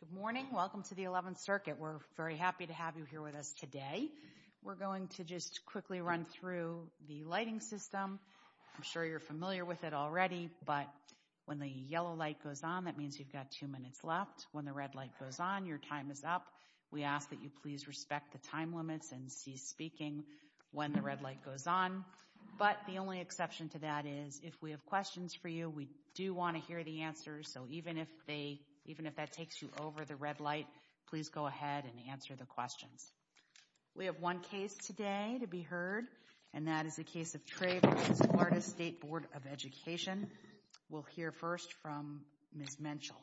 Good morning. Welcome to the 11th circuit. We're very happy to have you here with us today. We're going to just quickly run through the lighting system. I'm sure you're familiar with it already, but when the yellow light goes on, that means you've got two minutes left. When the red light goes on, your time is up. We ask that you please respect the time limits and cease speaking when the red light goes on. But the only exception to that is if we have questions for you, we do want to hear the answers. So even if that takes you over the red light, please go ahead and answer the questions. We have one case today to be heard, and that is the case of Tray v. Florida State Board of Education. We'll hear first from Ms. Menchel.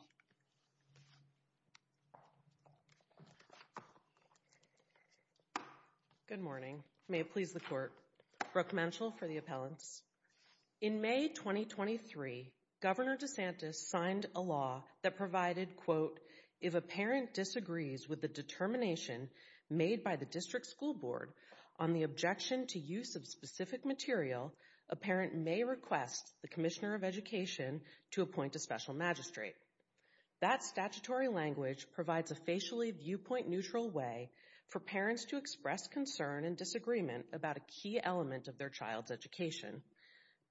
Good morning. May it please the court. Brooke Menchel for the appellants. In May 2023, Governor DeSantis signed a law that provided, quote, if a parent disagrees with the determination made by the district school board on the objection to use of specific material, a parent may request the commissioner of education to appoint a special magistrate. That statutory language provides a facially viewpoint neutral way for parents to express concern and disagreement about a key element of their child's education.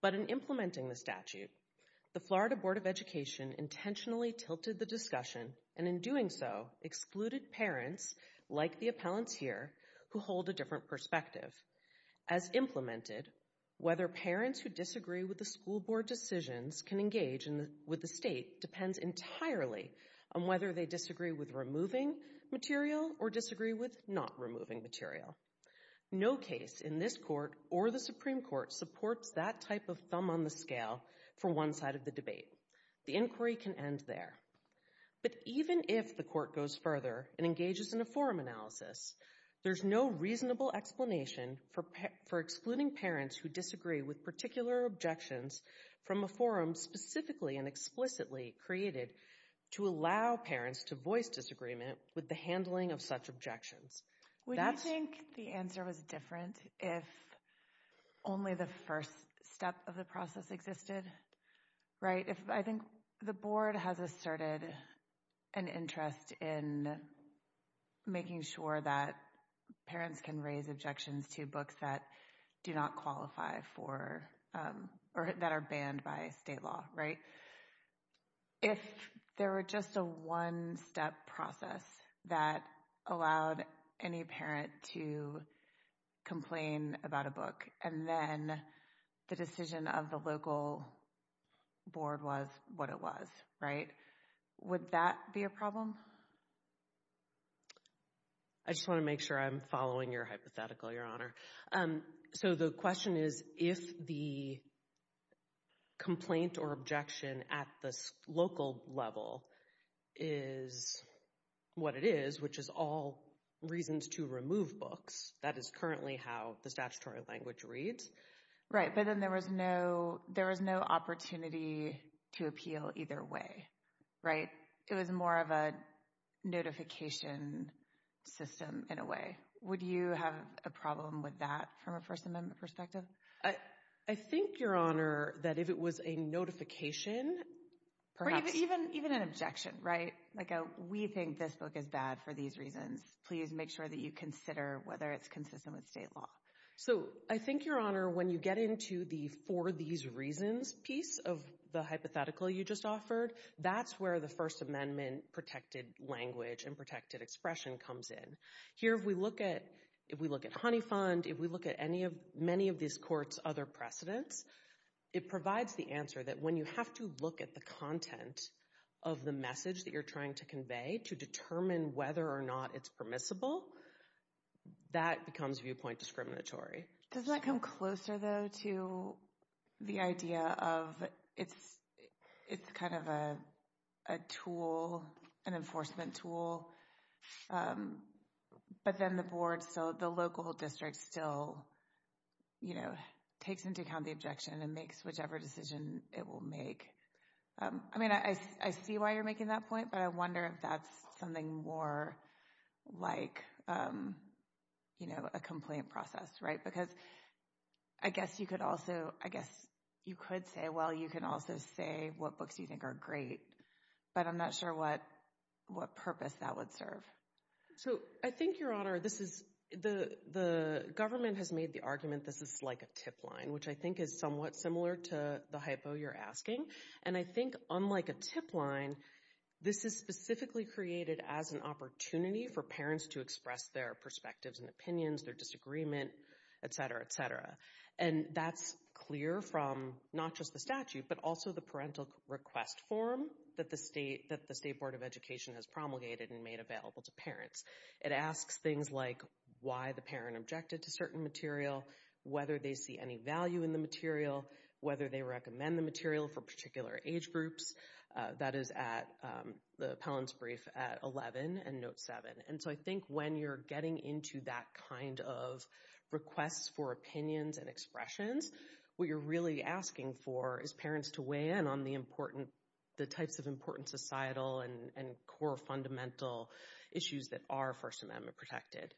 But in implementing the statute, the Florida Board of Education intentionally tilted the discussion and in doing so excluded parents, like the appellants here, who hold a different perspective. As implemented, whether parents who disagree with the school board decisions can engage with the state depends entirely on whether they disagree with removing material or disagree with not removing material. No case in this court or the Supreme Court supports that type of thumb on the scale for one side of the debate. The inquiry can end there. But even if the court goes further and engages in a forum analysis, there's no reasonable explanation for excluding parents who disagree with particular objections from a forum specifically and explicitly created to allow parents to voice disagreement with the handling of such objections. Would you think the answer was different if only the first step of the process existed? Right? I think the board has asserted an interest in making sure that parents can raise objections to books that do not qualify for or that are banned by state law, right? If there were just a one-step process that allowed any parent to complain about a book and then the decision of the local board was what it was, right, would that be a problem? I just want to make sure I'm following your hypothetical, Your Honor. So the question is, if the complaint or objection at this local level is what it is, which is all reasons to remove books, that is currently how the statutory language reads. Right, but then there was no, there was no opportunity to appeal either way, right? It was more of a notification system in a way. Would you have a problem with that from a First Amendment perspective? I think, Your Honor, that if it was a notification, perhaps... Or even an objection, right? Like a, we think this book is bad for these reasons. Please make sure that you consider whether it's consistent with state law. So I think, Your Honor, when you get into the for these reasons piece of the hypothetical you just offered, that's where the First Amendment protected language and protected expression comes in. Here, if we look at, if we look at Honeyfund, if we look at any of, many of these courts other precedents, it provides the answer that when you have to look at the content of the message that you're trying to convey to determine whether or not it's permissible, that becomes viewpoint discriminatory. Doesn't that come closer, though, to the idea of it's, it's kind of a tool, an enforcement tool, but then the board, so the local district still, you know, takes into account the objection and makes whichever decision it will make. I mean, I see why you're making that point, but I wonder if that's something more like, you know, a complaint process, right? Because I guess you could also, I guess you could say, well, you can also say what books you think are great, but I'm not sure what, what purpose that would serve. So I think, Your Honor, this is the, the government has made the argument this is like a tip line, which I think is somewhat similar to the hypo you're asking, and I think, unlike a tip line, this is specifically created as an opportunity for parents to express their perspectives and opinions, their disagreement, etc., etc., and that's clear from not just the statute, but also the parental request form that the state, that the State Board of Education has promulgated and made available to parents. It asks things like why the parent objected to certain material, whether they see any value in the material, whether they recommend the material for particular age groups. That is at the Pelham's brief at 11 and note 7. And so I think when you're getting into that kind of request for opinions and expressions, what you're really asking for is parents to weigh in on the important, the types of important societal and core fundamental issues that are First Amendment protected.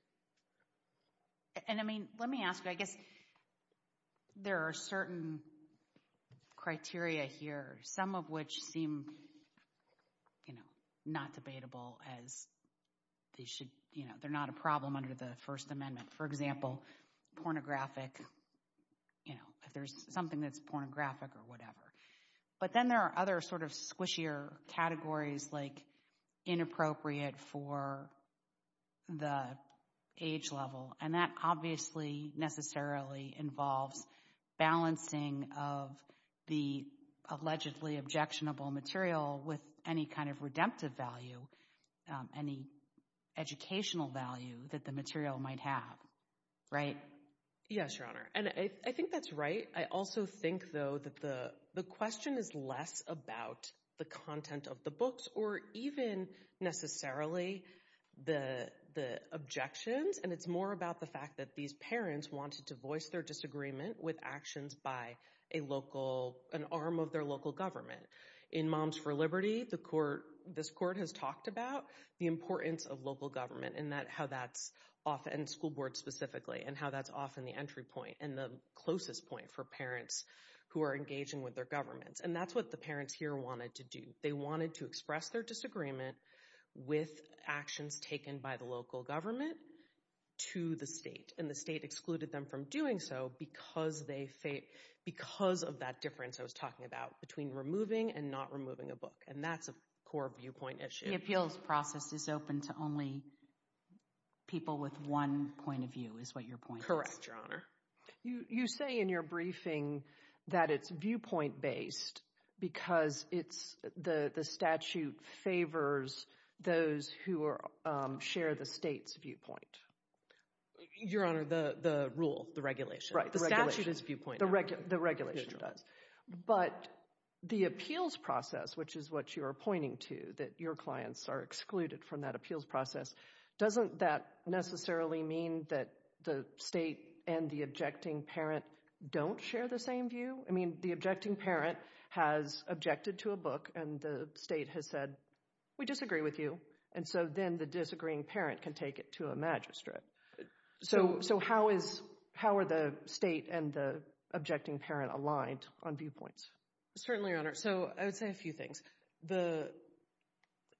And, I mean, let me ask you, I guess there are certain criteria here, some of which seem, you know, not debatable as they should, you know, they're not a problem under the First Amendment. For example, pornographic, you know, if there's something that's pornographic or whatever. But then there are other sort of squishier categories, like inappropriate for the the age level. And that obviously necessarily involves balancing of the allegedly objectionable material with any kind of redemptive value, any educational value that the material might have. Right? Yes, Your Honor. And I think that's right. I also think, though, that the question is less about the content of the books or even necessarily the the objections. And it's more about the fact that these parents wanted to voice their disagreement with actions by a local, an arm of their local government. In Moms for Liberty, the court, this court has talked about the importance of local government and that how that's often school board specifically and how that's often the entry point and the closest point for parents who are engaging with their governments. And that's what the parents here wanted to do. They wanted to express their disagreement with actions taken by the local government to the state. And the state excluded them from doing so because they think because of that difference I was talking about between removing and not removing a book. And that's a core viewpoint issue. The appeals process is open to only people with one point of view is your point. Correct, Your Honor. You say in your briefing that it's viewpoint based because it's the statute favors those who share the state's viewpoint. Your Honor, the rule, the regulation. Right. The statute is viewpoint. The regulation does. But the appeals process, which is what you are pointing to, that your clients are excluded from that appeals process, doesn't that necessarily mean that the state and the objecting parent don't share the same view? I mean the objecting parent has objected to a book and the state has said we disagree with you. And so then the disagreeing parent can take it to a magistrate. So how is, how are the state and the objecting parent aligned on viewpoints? Certainly, Your Honor. So I would say a few things. The,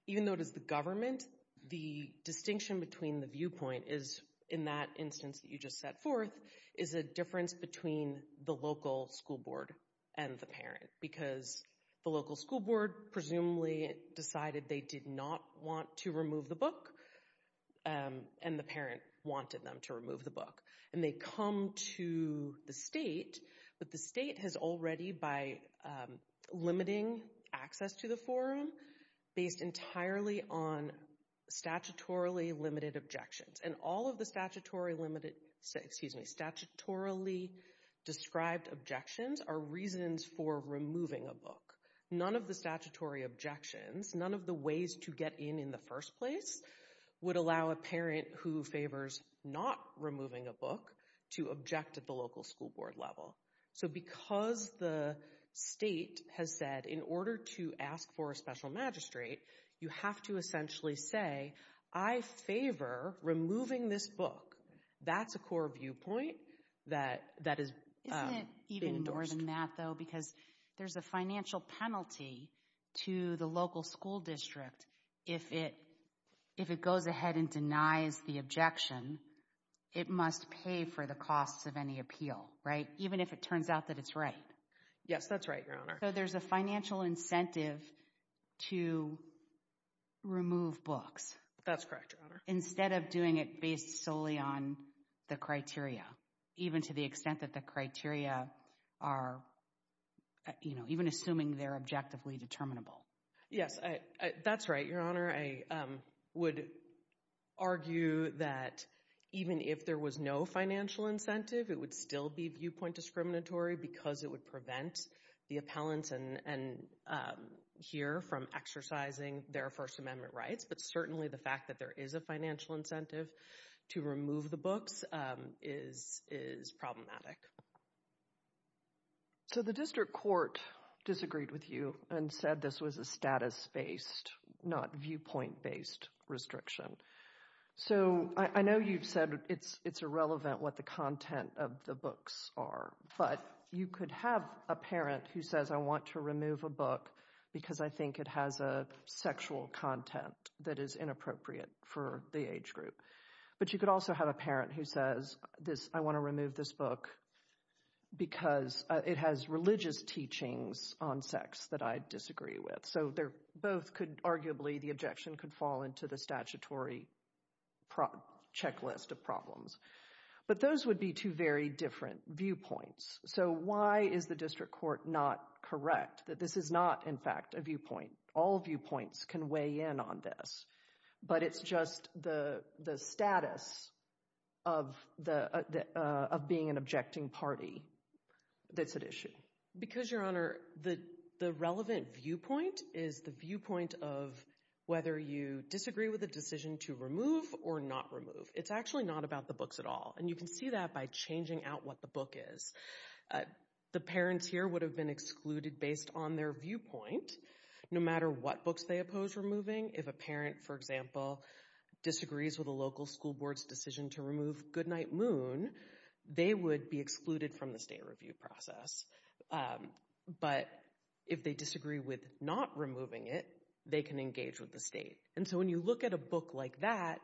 even though it is the government, the distinction between the viewpoint is, in that instance that you just set forth, is a difference between the local school board and the parent. Because the local school board presumably decided they did not want to remove the book. And the parent wanted them to remove the book. And they come to the state, but the state has already, by limiting access to the forum, based entirely on statutorily limited objections. And all of the statutory limited, excuse me, statutorily described objections are reasons for removing a book. None of the statutory objections, none of the ways to get in in the first place, would allow a parent who favors not removing a book to object at the local school board level. So because the state has said in order to ask for a special magistrate, you have to essentially say, I favor removing this book. That's a core viewpoint that, that has been endorsed. Isn't it even more than that though? Because there's a financial penalty to the local school district if it, if it goes ahead and denies the objection, it must pay for the costs of any appeal, right? Even if it turns out that it's right. Yes, that's right, Your Honor. So there's a financial incentive to remove books. That's correct, Your Honor. Instead of doing it based solely on the criteria, even to the extent that the criteria are, you know, even assuming they're objectively determinable. Yes, that's right, Your Honor. I would argue that even if there was no financial incentive, it would still be viewpoint discriminatory because it would prevent the appellants and, and hear from exercising their First Amendment rights. But certainly the fact that there is a financial incentive to remove the books is, is problematic. So the district court disagreed with you and said this was a status-based, not viewpoint-based restriction. So I know you've said it's, it's irrelevant what the content of the books are, but you could have a parent who says, I want to remove a book because I think it has a sexual content that is inappropriate for the age group. But you could also have a parent who says this, I want to remove this book because it has religious teachings on sex that I disagree with. So they're both could arguably, the objection could fall into the statutory checklist of problems. But those would be two very different viewpoints. So why is the district court not correct that this is not, in fact, a viewpoint? All viewpoints can weigh in on this, but it's just the, the status of the, of being an objecting party that's at issue? Because, Your Honor, the, the relevant viewpoint is the viewpoint of whether you disagree with a decision to remove or not remove. It's actually not about the books at all. And you can see that by changing out what the book is. The parents here would have been excluded based on their viewpoint, no matter what books they oppose removing. If a parent, for example, disagrees with a local school board's decision to remove Goodnight Moon, they would be excluded from the state review process. But if they disagree with not removing it, they can engage with the state. And so when you look at a book like that,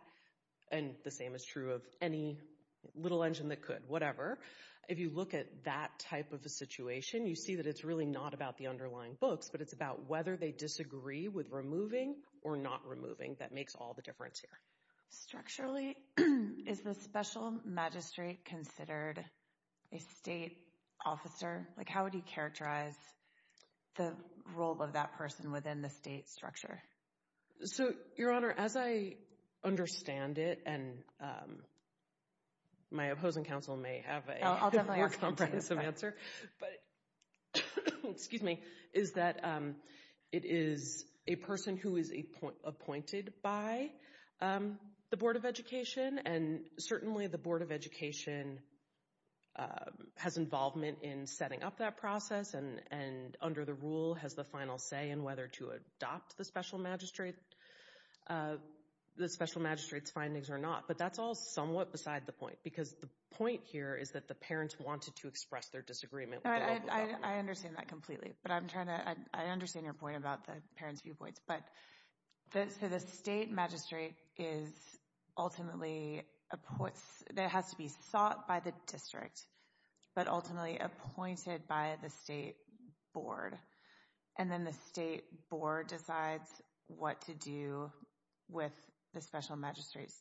and the same is true of any little engine that could, whatever, if you look at that type of a situation, you see that it's really not about the underlying books, but it's about whether they disagree with removing or not removing. That makes all the difference here. Structurally, is the special magistrate considered a state officer? Like, how would you characterize the role of that within the state structure? So, Your Honor, as I understand it, and my opposing counsel may have a more comprehensive answer, but excuse me, is that it is a person who is appointed by the Board of Education. And certainly the Board of Education has involvement in setting up that process, and under the rule has the final say in whether to adopt the special magistrate, the special magistrate's findings or not. But that's all somewhat beside the point, because the point here is that the parents wanted to express their disagreement. I understand that completely, but I'm trying to, I understand your point about the parents' viewpoints. But so the state magistrate is ultimately, there has to be sought by the district, but ultimately appointed by the state board. And then the state board decides what to do with the special magistrate's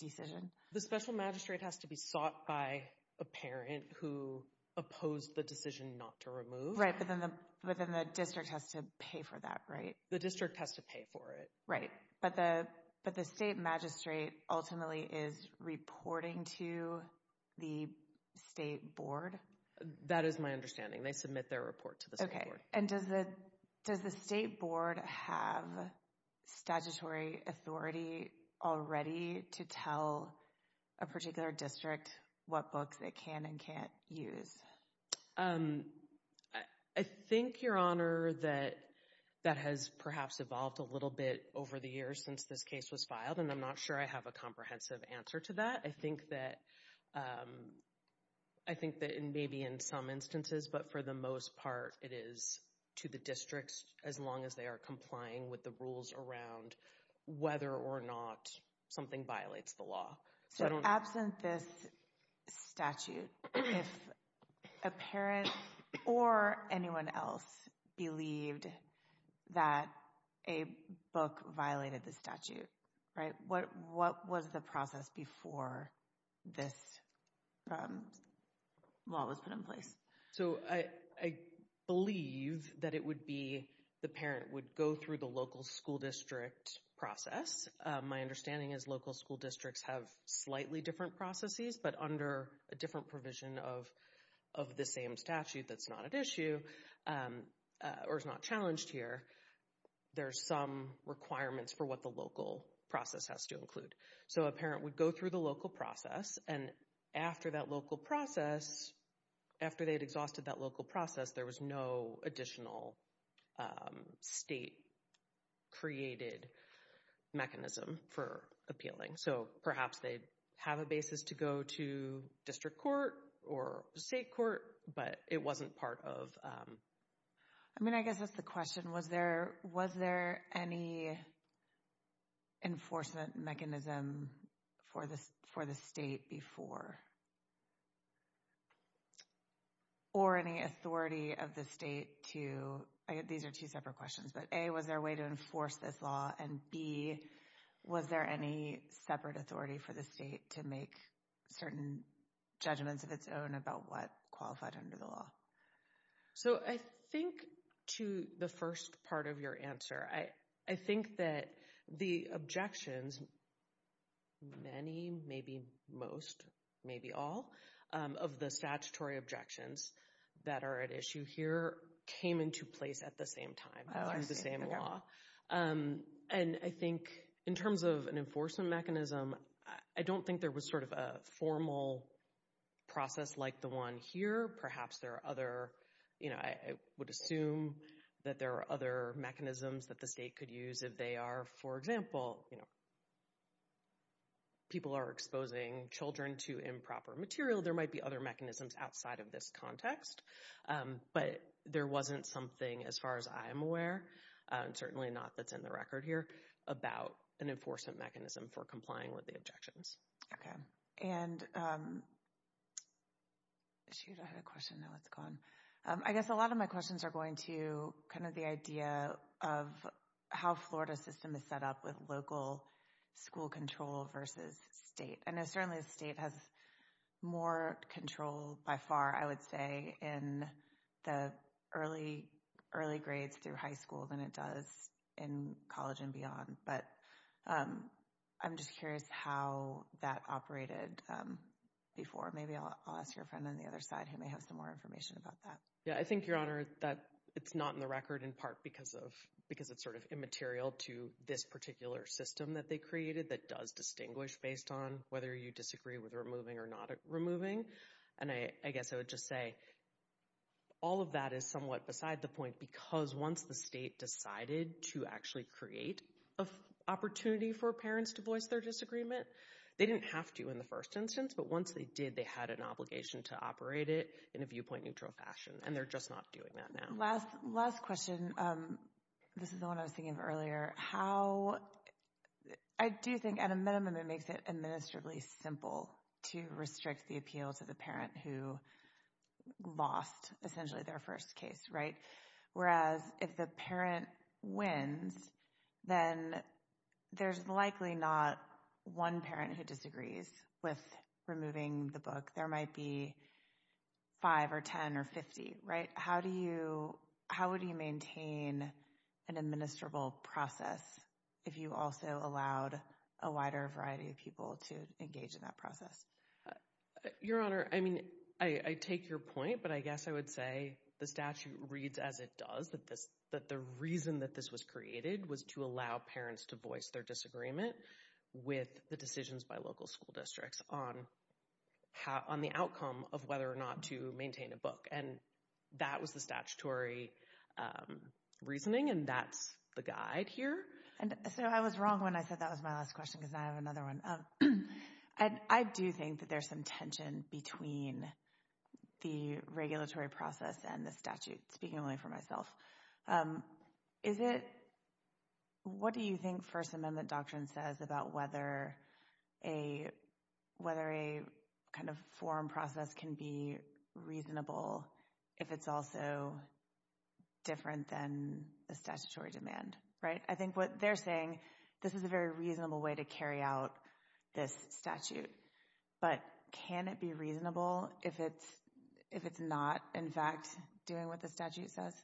decision. The special magistrate has to be sought by a parent who opposed the decision not to remove. Right, but then the district has to pay for that, right? The district has to pay for it. Right, but the state magistrate ultimately is reporting to the state board. That is my understanding. They submit their report to the state board. Okay, and does the state board have statutory authority already to tell a particular district what books it can and can't use? I think, Your Honor, that has perhaps evolved a little bit over the years since this case was filed, and I'm not sure I have a comprehensive answer to that. I think that it may be in some instances, but for the most part, it is to the districts, as long as they are complying with the rules around whether or not something violates the law. So absent this statute, if a parent or anyone else believed that a book violated the statute, right, what was the process before this law was put in place? So I believe that it would be, the parent would go through the local school district process. My understanding is local school districts have slightly different processes, but under a different provision of the same statute that's not at issue or is not challenged here, there's some requirements for the local process has to include. So a parent would go through the local process, and after that local process, after they had exhausted that local process, there was no additional state-created mechanism for appealing. So perhaps they have a basis to go to district court or state court, but it wasn't part of... I mean, I guess that's the question. Was there any enforcement mechanism for the state before? Or any authority of the state to... These are two separate questions, but A, was there a way to enforce this law? And B, was there any separate authority for the state to make certain judgments of its own about what qualified under the law? So I think to the first part of your answer, I think that the objections, many, maybe most, maybe all, of the statutory objections that are at issue here came into place at the same time, through the same law. And I think in terms of an enforcement mechanism, I don't think there was sort of a formal process like the one here. Perhaps there are other... I would assume that there are other mechanisms that the state could use if they are, for example, people are exposing children to improper material. There might be other mechanisms outside of this context, but there wasn't something, as far as I'm aware, certainly not that's in the record here, about an enforcement mechanism for complying with the objections. Okay. And... Shoot, I had a question. Now it's gone. I guess a lot of my questions are going to kind of the idea of how Florida's system is set up with local school control versus state. I know certainly the state has more control by far, I would say, in the early grades through high school than it does in college and beyond. But I'm just curious how that operated before. Maybe I'll ask your friend on the other side who may have some more information about that. Yeah, I think, Your Honor, that it's not in the record in part because it's sort of immaterial to this particular system that they created that does distinguish based on whether you disagree with removing or not removing. And I guess I would just say all of that is somewhat beside the point because once the state decided to actually create an opportunity for parents to voice their disagreement, they didn't have to in the first instance, but once they did, they had an obligation to operate it in a viewpoint-neutral fashion, and they're just not doing that now. Last question. This is the one I was thinking of earlier. How... I do think, at a minimum, it makes it administratively simple to restrict the appeal to the parent who lost, essentially, their first case, whereas if the parent wins, then there's likely not one parent who disagrees with removing the book. There might be five or 10 or 50. How would you maintain an administrable process if you also allowed a wider variety of people to engage in that process? Your Honor, I mean, I take your point, but I guess I would say the statute reads as it does, that the reason that this was created was to allow parents to voice their disagreement with the decisions by local school districts on the outcome of whether or not to maintain a book, and that was the statutory reasoning, and that's the guide here. And so I was wrong when I said that was my last question because I have another one. I do think that there's some tension between the regulatory process and the statute, speaking only for myself. Is it... What do you think First Amendment doctrine says about whether a kind of forum process can be reasonable if it's also different than the statutory demand, right? I think what they're saying, this is a very reasonable way to carry out this statute, but can it be reasonable if it's not, in fact, doing what the statute says?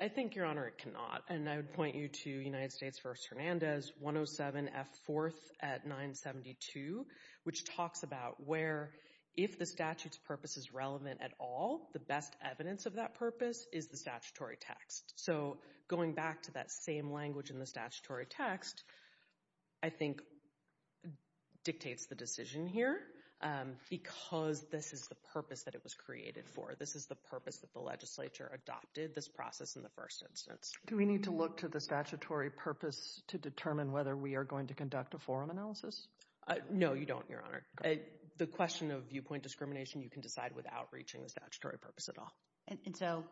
I think, Your Honor, it cannot, and I would point you to United States v. Hernandez 107F4 at 972, which talks about where if the statute's purpose is relevant at all, the best evidence of that is the statutory text. So going back to that same language in the statutory text, I think dictates the decision here because this is the purpose that it was created for. This is the purpose that the legislature adopted this process in the first instance. Do we need to look to the statutory purpose to determine whether we are going to conduct a forum analysis? No, you don't, Your Honor. The question of viewpoint discrimination, you can decide without reaching the statutory purpose at all. And so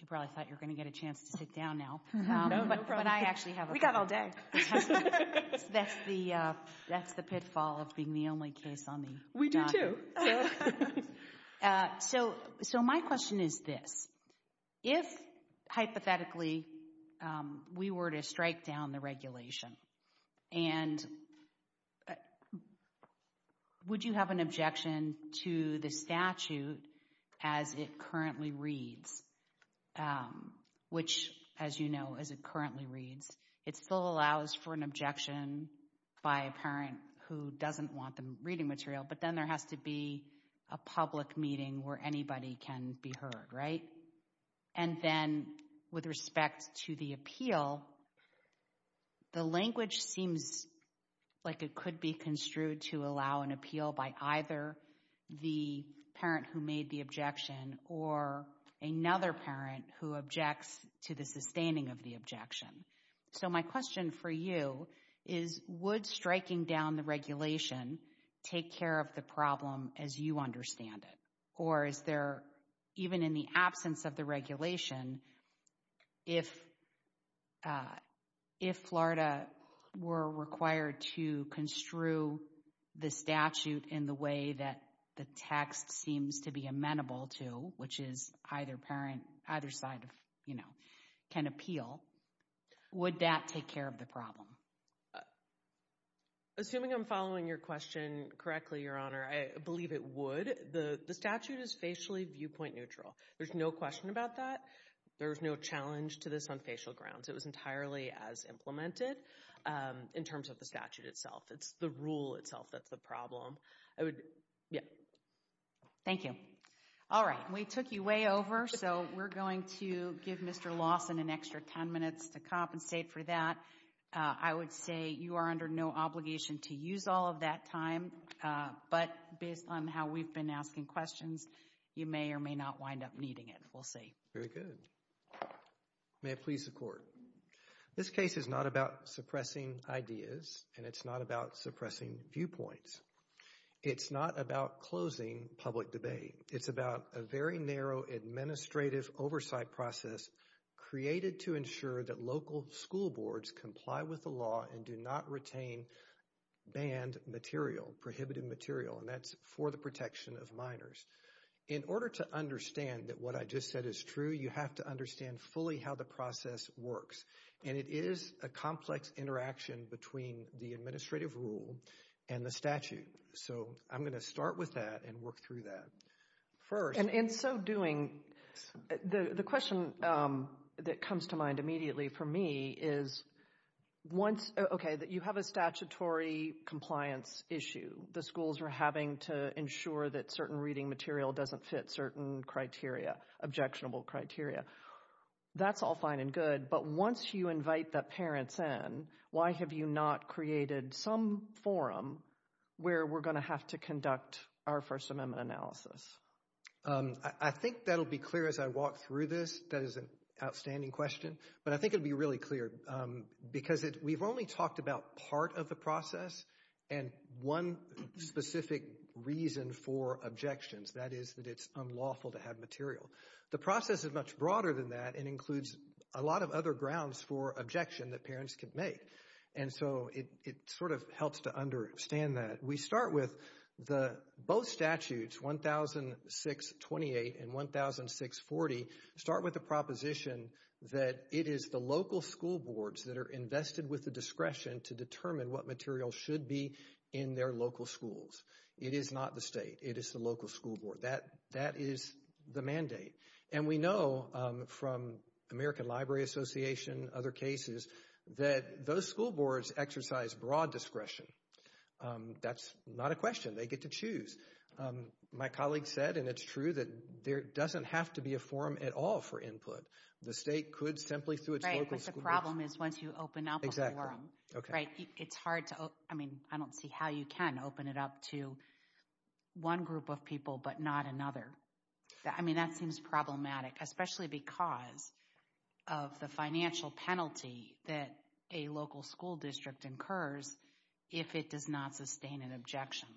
you probably thought you were going to get a chance to sit down now. No, no problem. We got all day. That's the pitfall of being the only case on the docket. We do, too. So my question is this. If, hypothetically, we were to strike down the regulation, and would you have an objection to the statute as it currently reads, which, as you know, as it currently reads, it still allows for an objection by a parent who doesn't want the reading material, but then there has to be a public meeting where anybody can be heard, right? And then, with respect to the appeal, the language seems like it could be construed to allow an appeal by either the parent who made the objection or another parent who objects to the sustaining of the objection. So my question for you is, would striking down the regulation take care of the problem as you understand it? Or is there, even in the absence of the regulation, if Florida were required to construe the statute in the way that the text seems to be amenable to, which is either side can appeal, would that take care of the problem? Assuming I'm following your question correctly, Your Honor, I believe it would. The statute is facially viewpoint neutral. There's no question about that. There's no challenge to this on facial grounds. It was entirely as implemented in terms of the statute itself. It's the rule itself that's the problem. I would, yeah. Thank you. All right. We took you way over, so we're going to give Mr. Lawson an extra 10 minutes to compensate for that. I would say you are under no obligation to use all of that time, but based on how we've been asking questions, you may or may not wind up needing it. We'll see. Very good. May it please the Court. This case is not about suppressing ideas, and it's not about suppressing viewpoints. It's not about closing public debate. It's about a very narrow administrative oversight process created to ensure that local school boards comply with the law and do not retain banned material, prohibited material, and that's for the protection of minors. In order to understand that what I just said is true, you have to understand fully how the process works, and it is a complex interaction between the administrative rule and the statute. So I'm going to start with that and work through that first. And in so doing, the question that comes to mind immediately for me is once, okay, that you have a statutory compliance issue. The schools are having to ensure that certain reading material doesn't fit certain criteria, objectionable criteria. That's all fine and good, but once you invite the parents in, why have you not created some forum where we're going to have to conduct our First Amendment analysis? I think that'll be clear as I walk through this. That is an outstanding question, but I think it'll be really clear because we've only talked about part of the process and one specific reason for objections. That is that it's unlawful to have material. The process is much broader than that and includes a lot of other grounds for objection that parents could make. And so it sort of helps to understand that. We start with both statutes, 1006-28 and 1006-40, start with the proposition that it is the local school boards that are invested with the discretion to determine what material should be in their local schools. It is not the state. It is the local school board. That is the mandate. And we know from American Library Association, other cases, that those school boards exercise broad discretion. That's not a question. They get to choose. My colleague said, and it's true, that there doesn't have to be a forum at all for input. The state could simply through its local school boards. Right, but the problem is once you open up a forum, it's hard to, I mean, I don't see how you can open it up to one group of people but not another. I mean, that seems problematic, especially because of the financial penalty that a local school district incurs if it does not sustain an objection.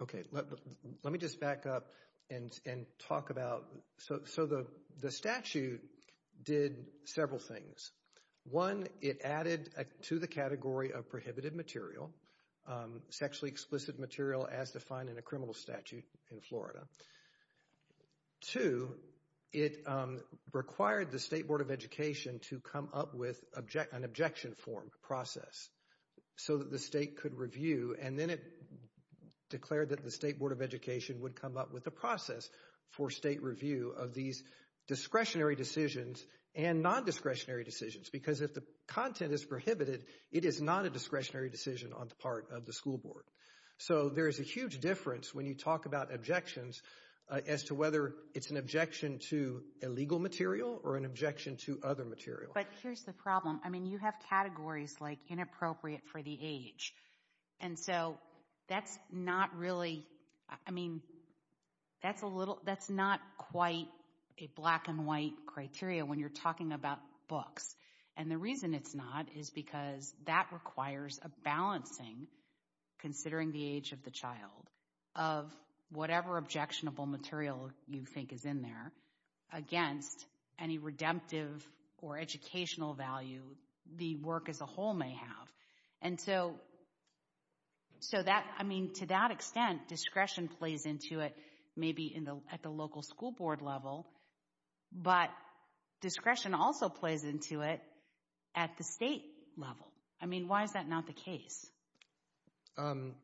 Okay, let me just back up and talk about, so the statute did several things. One, it added to the category of prohibited material, sexually explicit material as defined in a criminal statute in Florida. Two, it required the State Board of Education to come up with an objection form process so that the state could review and then it declared that the State Board of Education would come up with a process for state review of these discretionary decisions and non-discretionary decisions because if the content is prohibited, it is not a discretionary decision on the part of the school board. So there is a huge difference when you talk about objections as to whether it's an objection to illegal material or an objection to other material. But here's the problem. I mean, you have categories like inappropriate for the age. And so that's not really, I mean, that's a little, that's not quite a black and white criteria when you're talking about books. And the reason it's not is because that requires a balancing, considering the age of the child, of whatever objectionable material you think is in there against any redemptive or educational value the work as a whole may have. And so, so that, I mean, to that extent, discretion plays into it maybe in the, at the local school board level. But discretion also plays into it at the state level. I mean, why is that not the case? In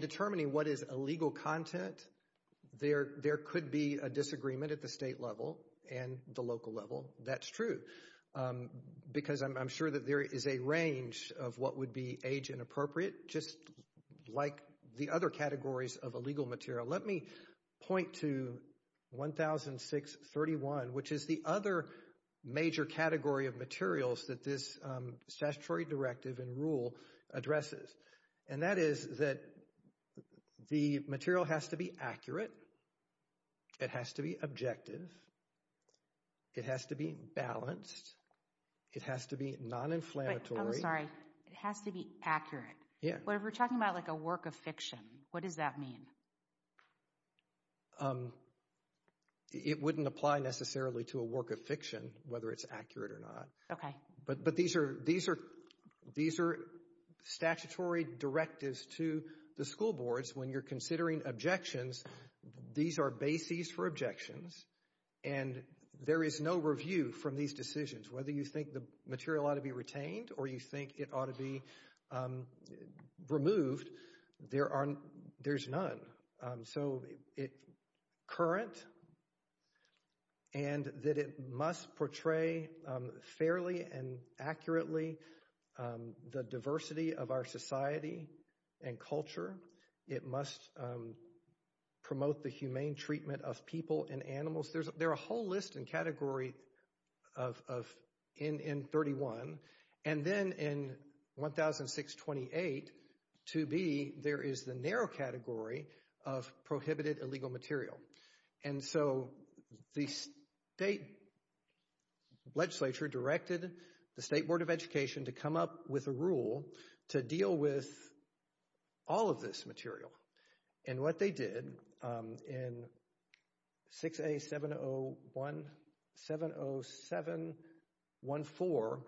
determining what is illegal content, there, there could be a disagreement at the state level and the local level. That's true. Because I'm sure that there is a range of what would be age inappropriate, just like the other categories of illegal material. Let me point to 1,631, which is the other major category of materials that this statutory directive and rule addresses. And that is that the material has to be accurate. It has to be objective. It has to be balanced. It has to be non-inflammatory. I'm sorry, it has to be accurate. Yeah. But if we're talking about like a work of fiction, what does that mean? It wouldn't apply necessarily to a work of fiction, whether it's accurate or not. Okay. But, but these are, these are, these are statutory directives to the school boards when you're considering objections. These are bases for objections. And there is no review from these decisions, whether you think the material ought to be retained or you think it ought to be removed. There aren't, there's none. So it, current, and that it must portray fairly and accurately the diversity of our society and culture. It must promote the humane treatment of people and animals. There's, there are a whole list and category of, of, in, in 31. And then in 1,628, 2B, there is the narrow category of prohibited illegal material. And so the state legislature directed the State Board of Education to come up with a rule to deal with all of this material. And what they did in 6A701, 70714,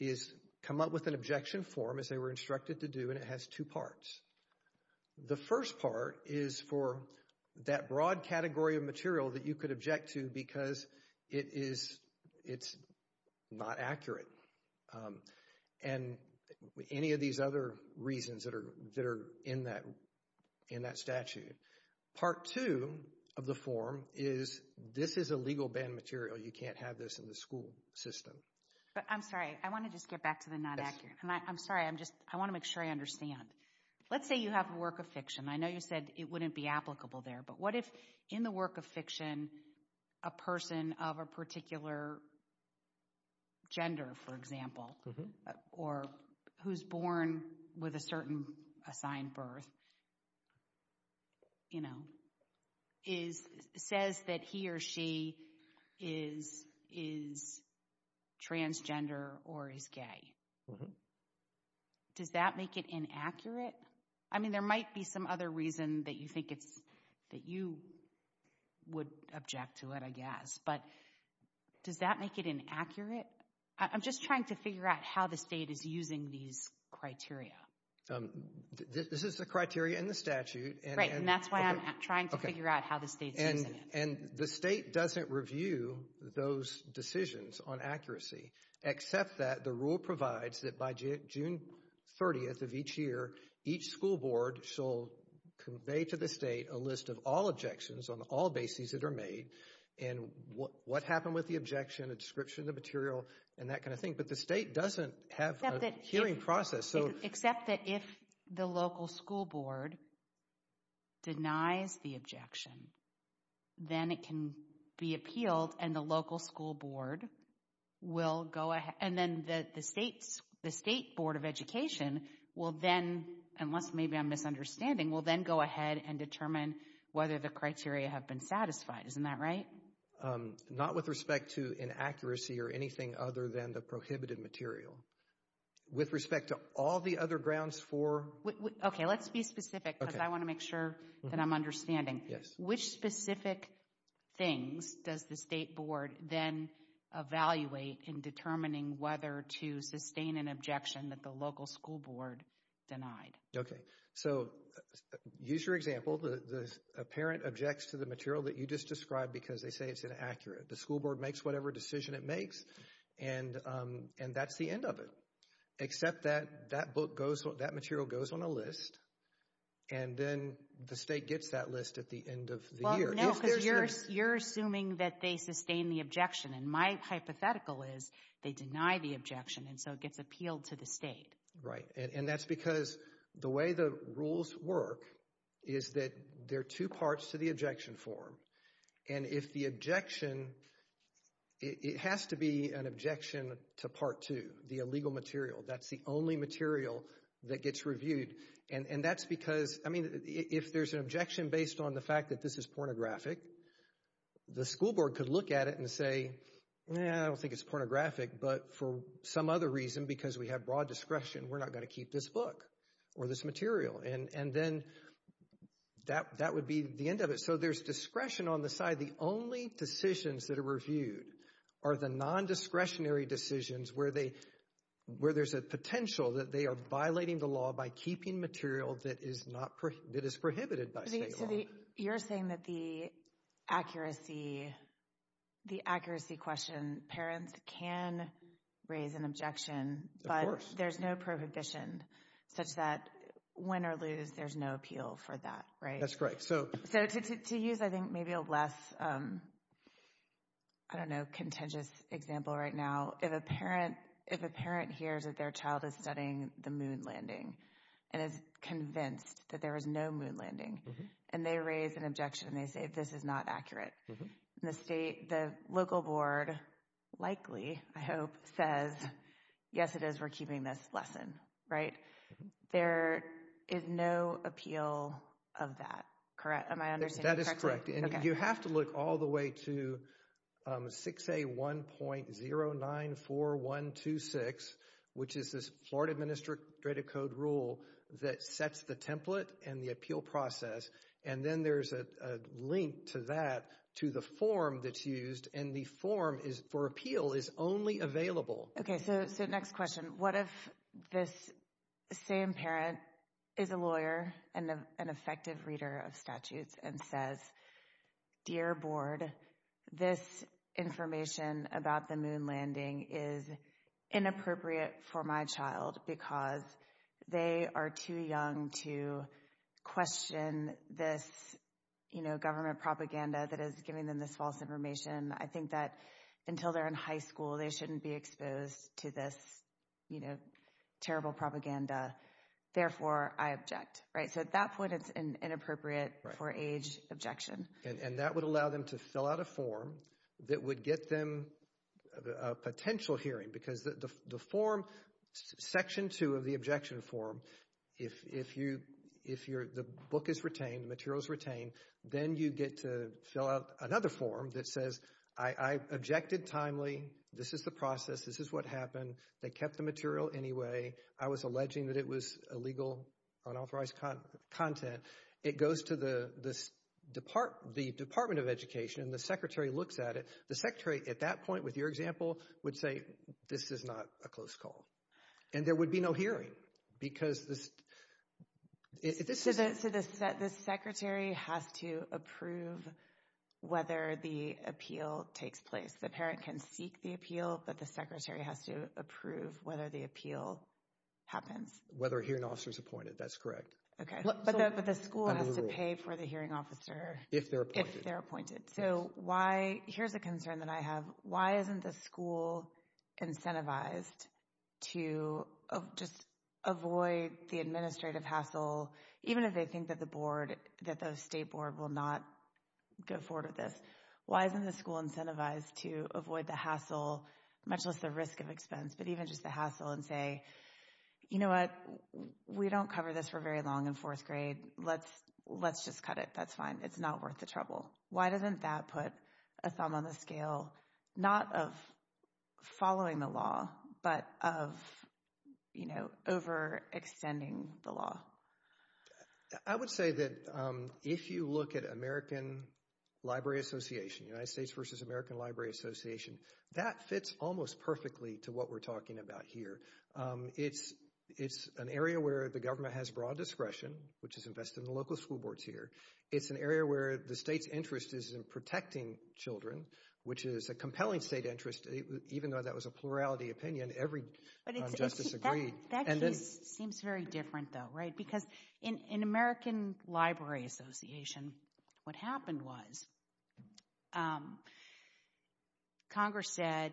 is come up with an objection form, as they were instructed to do, and it has two parts. The first part is for that broad reasons that are, that are in that, in that statute. Part two of the form is this is illegal banned material. You can't have this in the school system. But I'm sorry, I want to just get back to the not accurate. I'm sorry, I'm just, I want to make sure I understand. Let's say you have a work of fiction. I know you said it wouldn't be applicable there, but what if in the work of with a certain assigned birth, you know, is, says that he or she is, is transgender or is gay? Does that make it inaccurate? I mean, there might be some other reason that you think it's, that you would object to it, I guess. But does that make it inaccurate? I'm just trying to figure out how the state is using these criteria. This is the criteria in the statute. Right, and that's why I'm trying to figure out how the state's using it. And the state doesn't review those decisions on accuracy, except that the rule provides that by June 30th of each year, each school board shall convey to the state a list of all objections on all bases that are made, and what, what happened with the objection, a description of the material, and that kind of thing. But the state doesn't have a hearing process, so. Except that if the local school board denies the objection, then it can be appealed, and the local school board will go ahead, and then the state's, the state board of education will then, unless maybe I'm misunderstanding, will then go ahead and determine whether the criteria have been satisfied. Isn't that right? Not with respect to inaccuracy or anything other than the prohibited material. With respect to all the other grounds for. Okay, let's be specific, because I want to make sure that I'm understanding. Yes. Which specific things does the state board then evaluate in determining whether to sustain an objection that the local school board denied? Okay, so use your example. The parent objects to the material that you just described because they say it's inaccurate. The school board makes whatever decision it makes, and, and that's the end of it. Except that, that book goes, that material goes on a list, and then the state gets that list at the end of the year. No, because you're, you're assuming that they sustain the objection, and my hypothetical is they deny the objection, and so it gets appealed to the state. Right, and that's because the way the rules work is that there are two parts to the objection form, and if the objection, it has to be an objection to part two, the illegal material. That's the only material that gets reviewed, and, and that's because, I mean, if there's an objection based on the fact that this is pornographic, the school board could look at it and say, yeah, I don't think it's pornographic, but for some other reason, because we have broad discretion, we're not going to keep this book or this material, and, and then that, that would be the end of it. So there's discretion on the side. The only decisions that are reviewed are the non-discretionary decisions where they, where there's a potential that they are violating the law by keeping material that is not, that is prohibited by state law. You're saying that the accuracy, the accuracy question, parents can raise an objection, but there's no prohibition such that, win or lose, there's no appeal for that, right? That's correct. So, so to use, I think, maybe a less, I don't know, contagious example right now, if a parent, if a parent hears that their child is studying the moon landing and is convinced that there is no moon landing, and they raise an objection, they say, this is not accurate. The state, the local board likely, I hope, says, yes, it is, we're keeping this lesson, right? There is no appeal of that, correct? Am I understanding correctly? That is correct, and you have to look all the way to 6A1.094126, which is this Florida Administrative Code rule that sets the template and the appeal process, and then there's a link to that, to the form that's used, and the form is, for appeal, is only available. Okay, so, so next question. What if this same parent is a lawyer and an effective reader of statutes and says, dear board, this information about the moon landing is inappropriate for my child because they are too young to question this, you know, government propaganda that is giving them this false information. I think that until they're in high school, they shouldn't be exposed to this, you know, terrible propaganda. Therefore, I object, right? So, at that point, it's inappropriate for age objection. And that would allow them to fill out a form that would get them a potential hearing because the form, section two of the objection form, if you, if you're, the book is retained, the material is retained, then you get to fill out another form that says, I objected timely, this is the process, this is what happened, they kept the material anyway, I was alleging that it was illegal, unauthorized content. It goes to the department of education, the secretary looks at it, the secretary, at that point, with your example, would say, this is not a close call. And there would be no hearing because this, if this is... So, the secretary has to approve whether the appeal takes place. The parent can seek the but the secretary has to approve whether the appeal happens. Whether a hearing officer is appointed, that's correct. Okay. But the school has to pay for the hearing officer. If they're appointed. If they're appointed. So, why, here's a concern that I have, why isn't the school incentivized to just avoid the administrative hassle, even if they think that the board, that the state board will not go forward with this. Why isn't the school incentivized to avoid the hassle, much less the risk of expense, but even just the hassle and say, you know what, we don't cover this for very long in fourth grade, let's just cut it, that's fine, it's not worth the trouble. Why doesn't that put a thumb on the scale, not of following the law, but of, you know, overextending the law? I would say that if you look at American Library Association, United States versus American Library Association, that fits almost perfectly to what we're talking about here. It's an area where the government has broad discretion, which is invested in the local school boards here. It's an area where the state's interest is in protecting children, which is a compelling state interest, even though that was a plurality opinion, every justice agreed. That seems very different though, right? Because in American Library Association, what happened was Congress said,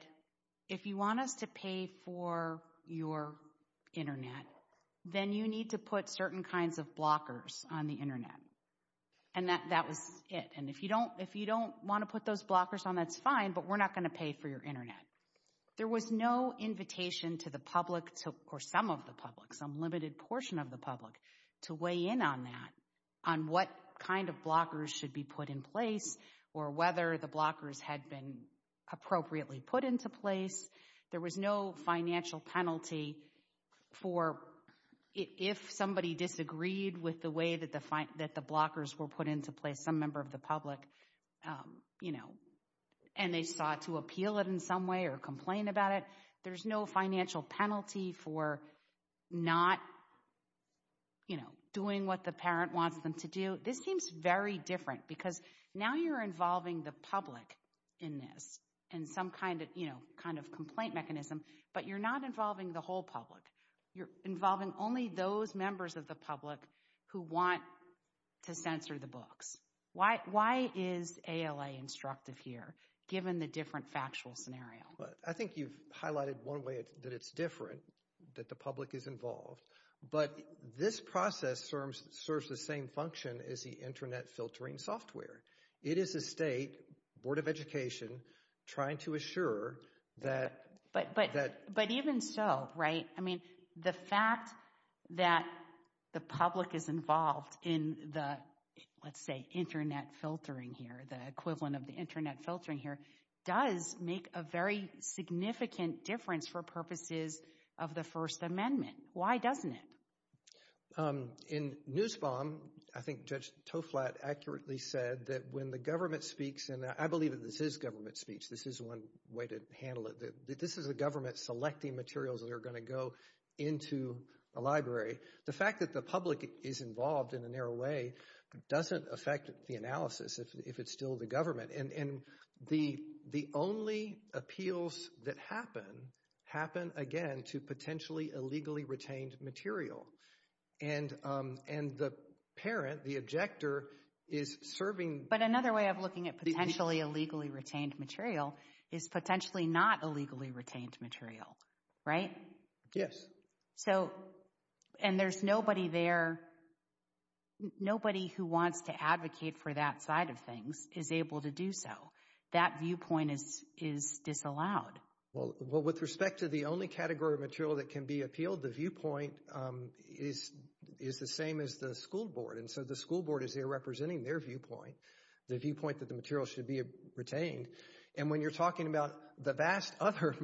if you want us to pay for your internet, then you need to put certain kinds of blockers on the internet. And that was it. And if you don't want to put those blockers on, that's fine, but we're not going to pay for your internet. There was no invitation to the public or some of the public, some limited portion of the public to weigh in on that, on what kind of blockers should be put in place or whether the blockers had been appropriately put into place. There was no financial penalty for if somebody disagreed with the way that the blockers were put into place, some member of the public, you know, and they sought to appeal it in some way or complain about it. There's no financial penalty for not, you know, doing what the parent wants them to do. This seems very different because now you're involving the public in this, in some kind of, you know, kind of complaint mechanism, but you're not involving the whole public. You're involving only those members of the public who want to censor the books. Why is ALA instructive here, given the different factual scenario? I think you've highlighted one way that it's different, that the public is involved, but this process serves the same function as the internet filtering software. It is a state, Board of Education, trying to assure that... But even so, right? I mean, the fact that the public is involved in the, let's say, internet filtering here, the equivalent of the internet filtering here, does make a very significant difference for purposes of the First Amendment. Why doesn't it? In Nussbaum, I think Judge Toflat accurately said that when the government speaks, and I believe that this is government speech, this is one way to handle it, that this is the into a library. The fact that the public is involved in a narrow way doesn't affect the analysis, if it's still the government. And the only appeals that happen, happen again to potentially illegally retained material. And the parent, the objector, is serving... But another way of looking at potentially illegally retained material is potentially not illegally retained material, right? Yes. So, and there's nobody there, nobody who wants to advocate for that side of things is able to do so. That viewpoint is disallowed. Well, with respect to the only category of material that can be appealed, the viewpoint is the same as the school board. And so the school board is there representing their viewpoint, the viewpoint that the material should be retained. And when you're talking about the vast other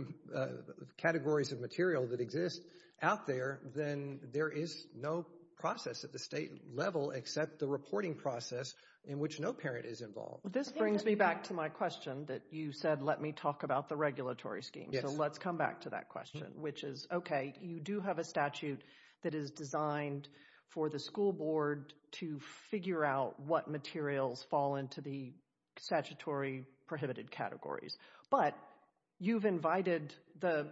categories of material that exist out there, then there is no process at the state level except the reporting process in which no parent is involved. This brings me back to my question that you said, let me talk about the regulatory scheme. So let's come back to that question, which is, okay, you do have a statute that is designed for the school board to figure out what materials fall into the statutory prohibited categories. But you've invited the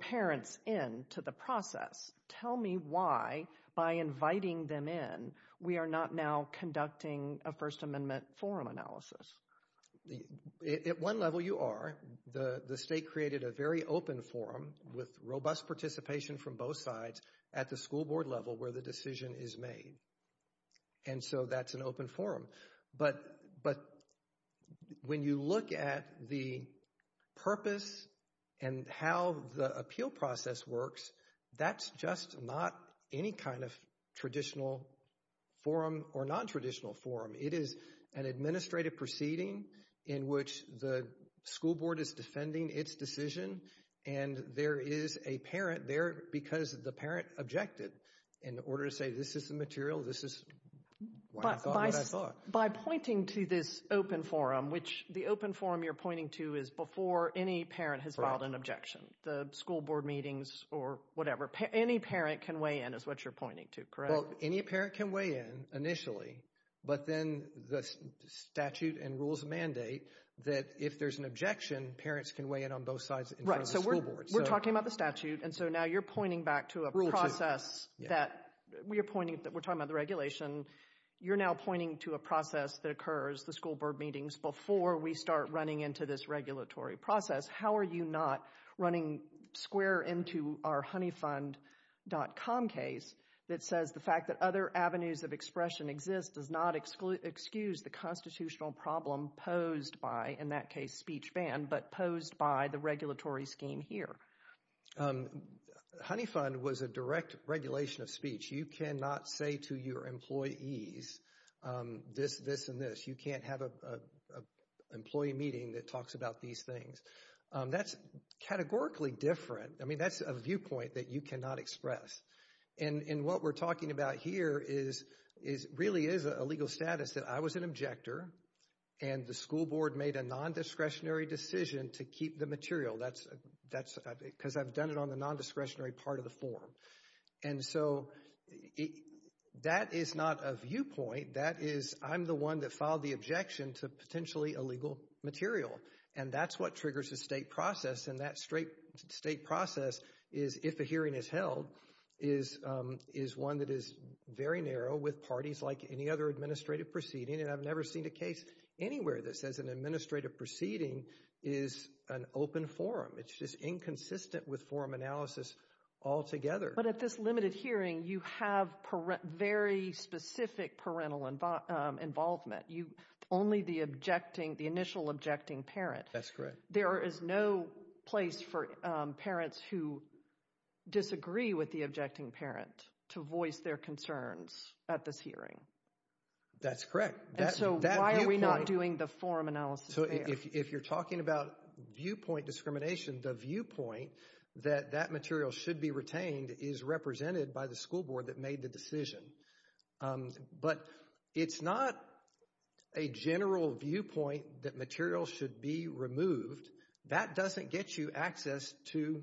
parents into the process. Tell me why, by inviting them in, we are not now conducting a First Amendment forum analysis. At one level, you are. The state created a very open forum with robust participation from both sides at the school board level where the decision is made. And so that's an open forum. But when you look at the purpose and how the appeal process works, that's just not any kind of traditional forum or non-traditional forum. It is an administrative forum. There is a parent there because the parent objected. In order to say this is the material, this is what I thought. By pointing to this open forum, which the open forum you're pointing to is before any parent has filed an objection, the school board meetings or whatever, any parent can weigh in is what you're pointing to, correct? Well, any parent can weigh in initially. But then the statute and rules mandate that if there's an objection, parents can weigh in on both sides in front of the school board. We're talking about the statute, and so now you're pointing back to a process that we're talking about the regulation. You're now pointing to a process that occurs, the school board meetings, before we start running into this regulatory process. How are you not running square into our honeyfund.com case that says the fact that other avenues of expression exist does not excuse the constitutional problem posed by, in that case, speech ban, but posed by the regulatory scheme here? Honey fund was a direct regulation of speech. You cannot say to your employees this, this, and this. You can't have a employee meeting that talks about these things. That's categorically different. I mean, that's a viewpoint that you cannot express. And what we're talking about here is really is a legal status that I was an objector, and the school board made a non-discretionary decision to keep the material. That's because I've done it on the non-discretionary part of the form. And so, that is not a viewpoint. That is, I'm the one that filed the objection to potentially illegal material, and that's what triggers the state process. And that straight state process is, if a hearing is held, is one that is very narrow with parties like any other administrative proceeding, and I've never seen a case anywhere that says an administrative proceeding is an open forum. It's just inconsistent with forum analysis altogether. But at this limited hearing, you have very specific parental involvement. Only the objecting, the initial objecting parent. That's correct. There is no place for parents who disagree with the objecting parent to voice their concerns at this hearing. That's correct. And so, why are we not doing the forum analysis? So, if you're talking about viewpoint discrimination, the viewpoint that that material should be retained is represented by the school board that made the decision. But it's not a general viewpoint that material should be removed. That doesn't get you access to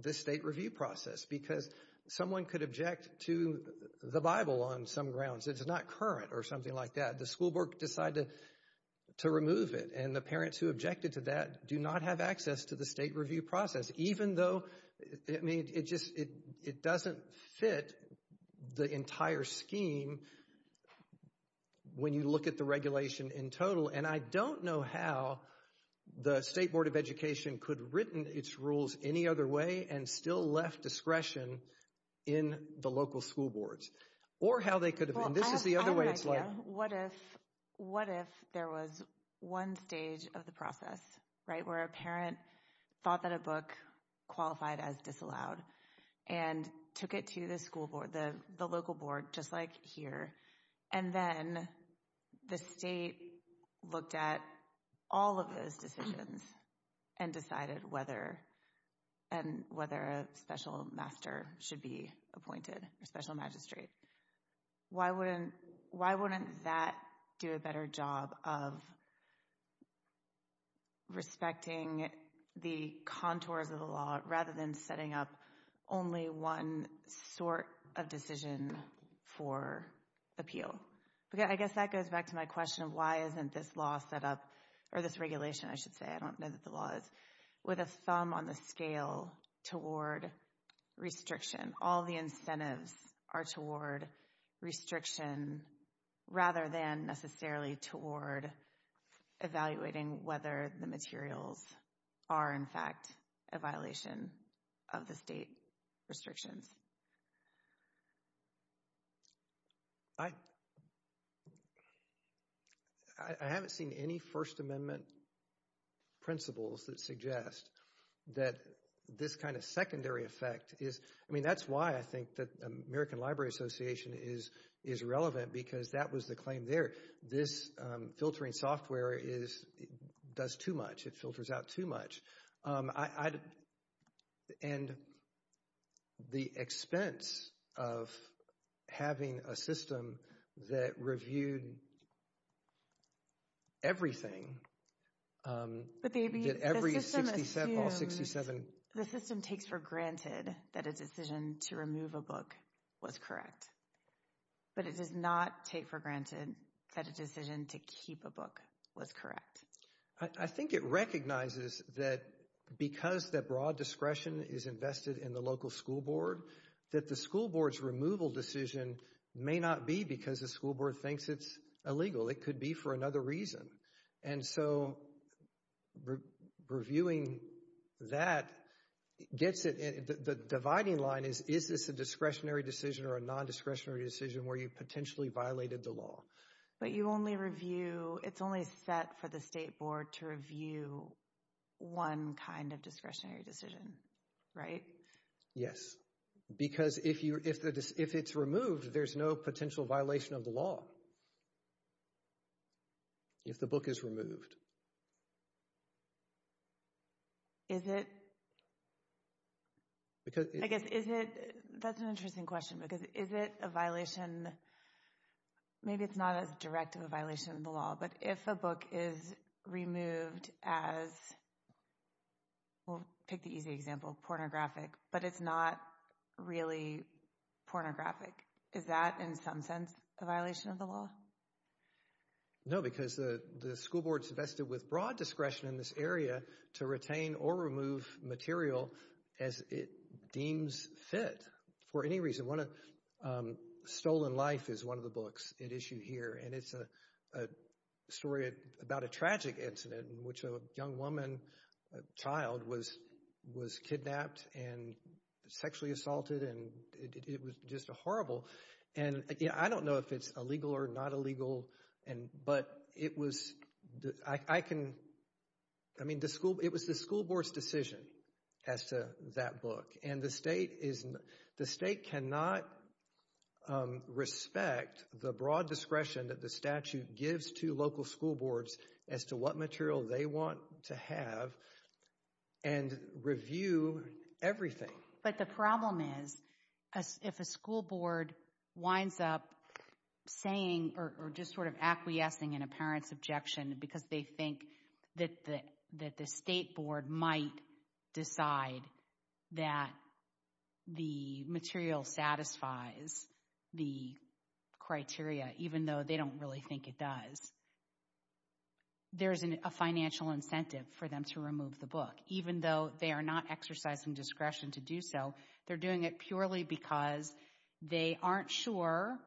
the state review process, because someone could object to the Bible on some grounds. It's not current or something like that. The school board decided to remove it, and the parents who objected to that do not have access to the state review process, even though, I mean, it just, it doesn't fit the entire scheme when you look at the regulation in total. And I don't know how the state board of education could have written its rules any other way and still left discretion in the local school boards, or how they could have, and this is the other way it's like. What if, what if there was one stage of the process, right, where a parent thought that a book qualified as disallowed and took it to the school board, the local board, just like here, and then the state looked at all of those decisions and decided whether, and whether a special master should be appointed or special magistrate. Why wouldn't, why wouldn't that do a better job of respecting the contours of the law rather than setting up only one sort of decision for appeal? Okay, I guess that goes back to my question of why isn't this law set up, or this regulation, I should say, I don't know that the law is, with a thumb on the scale toward restriction. All the incentives are toward restriction rather than necessarily toward evaluating whether the materials are, in fact, a violation of the state restrictions. I, I haven't seen any First Amendment principles that suggest that this kind of secondary effect is, I mean, that's why I think that American Library Association is, is relevant because that was the claim there. This filtering software is, does too much. It filters out too much. I, I, and the expense of having a system that reviewed everything, that every 67, all 67, the system takes for granted that a decision to remove a book was correct, but it does not take for granted that a decision to keep a book was correct. I, I think it recognizes that because that broad discretion is invested in the local school board, that the school board's removal decision may not be because the school board thinks it's illegal. It could be for another reason. And so reviewing that gets it, the dividing line is, is this a discretionary decision or a non-discretionary decision where you potentially violated the law? But you only review, it's only set for the state board to review one kind of discretionary decision, right? Yes, because if you, if the, if it's removed, there's no potential violation of the law. If the book is removed. Is it? Because, I guess, is it, that's an interesting question, because is it a violation maybe it's not as direct of a violation of the law, but if a book is removed as, we'll pick the easy example, pornographic, but it's not really pornographic, is that in some sense a violation of the law? No, because the school board's invested with broad discretion in this area to retain or remove material as it deems fit for any reason. One of, one of the books at issue here, and it's a story about a tragic incident in which a young woman, child, was, was kidnapped and sexually assaulted, and it was just a horrible, and I don't know if it's illegal or not illegal, and, but it was, I can, I mean the school, it was the school board's as to that book, and the state is, the state cannot respect the broad discretion that the statute gives to local school boards as to what material they want to have and review everything. But the problem is, if a school board winds up saying, or just sort of acquiescing in a decide that the material satisfies the criteria, even though they don't really think it does, there's a financial incentive for them to remove the book, even though they are not exercising discretion to do so. They're doing it purely because they aren't sure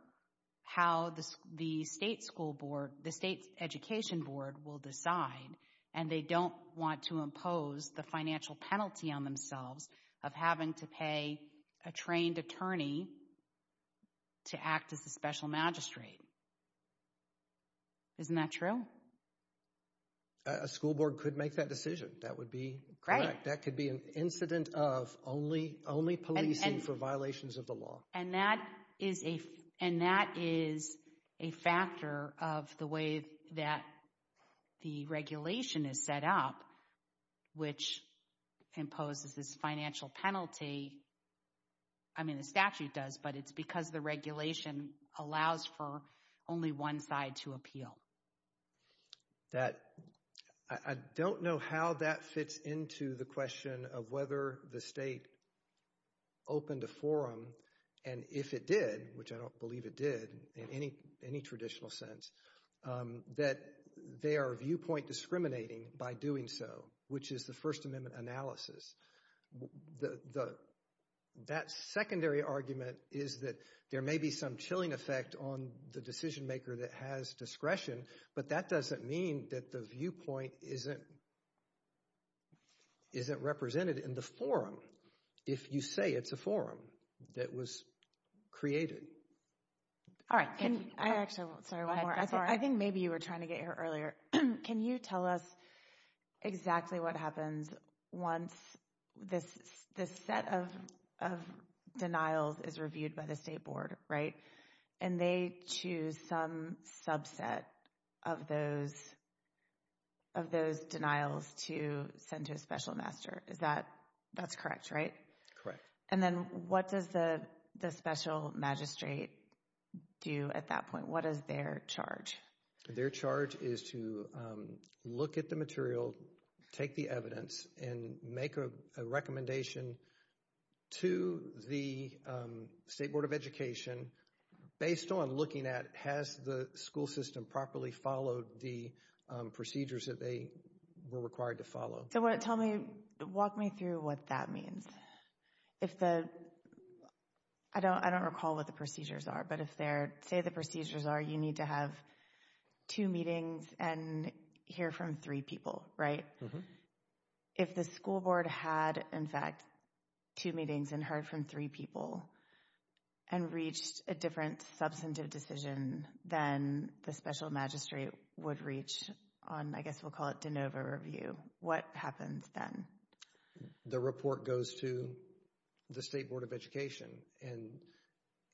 how the, the state school board, the state's education board will decide, and they don't want to impose the financial penalty on themselves of having to pay a trained attorney to act as the special magistrate. Isn't that true? A school board could make that decision. That would be correct. That could be an incident of only, only policing for violations of the law. And that is a, and that is a factor of the way that the regulation is set up, which imposes this financial penalty. I mean, the statute does, but it's because the regulation allows for only one side to appeal. That, I don't know how that fits into the question of whether the state opened a forum, and if it did, which I don't believe it did in any, any traditional sense, that they are viewpoint discriminating by doing so, which is the First Amendment analysis. The, that secondary argument is that there may be some chilling effect on the decision maker that has discretion, but that doesn't mean that the viewpoint isn't, isn't represented in the forum, if you say it's a forum that was created. All right. I actually, sorry, one more. I think maybe you were trying to get here earlier. Can you tell us exactly what happens once this, this set of, of denials is reviewed by the state to send to a special master? Is that, that's correct, right? Correct. And then what does the, the special magistrate do at that point? What is their charge? Their charge is to look at the material, take the evidence, and make a recommendation to the State Board of Education based on looking at has the school system properly followed the procedures that they were required to follow? So what, tell me, walk me through what that means. If the, I don't, I don't recall what the procedures are, but if they're, say the procedures are you need to have two meetings and hear from three people, right? If the school board had, in fact, two meetings and heard from three people and reached a different substantive decision than the special magistrate would reach on, I guess we'll call it de novo review, what happens then? The report goes to the State Board of Education and,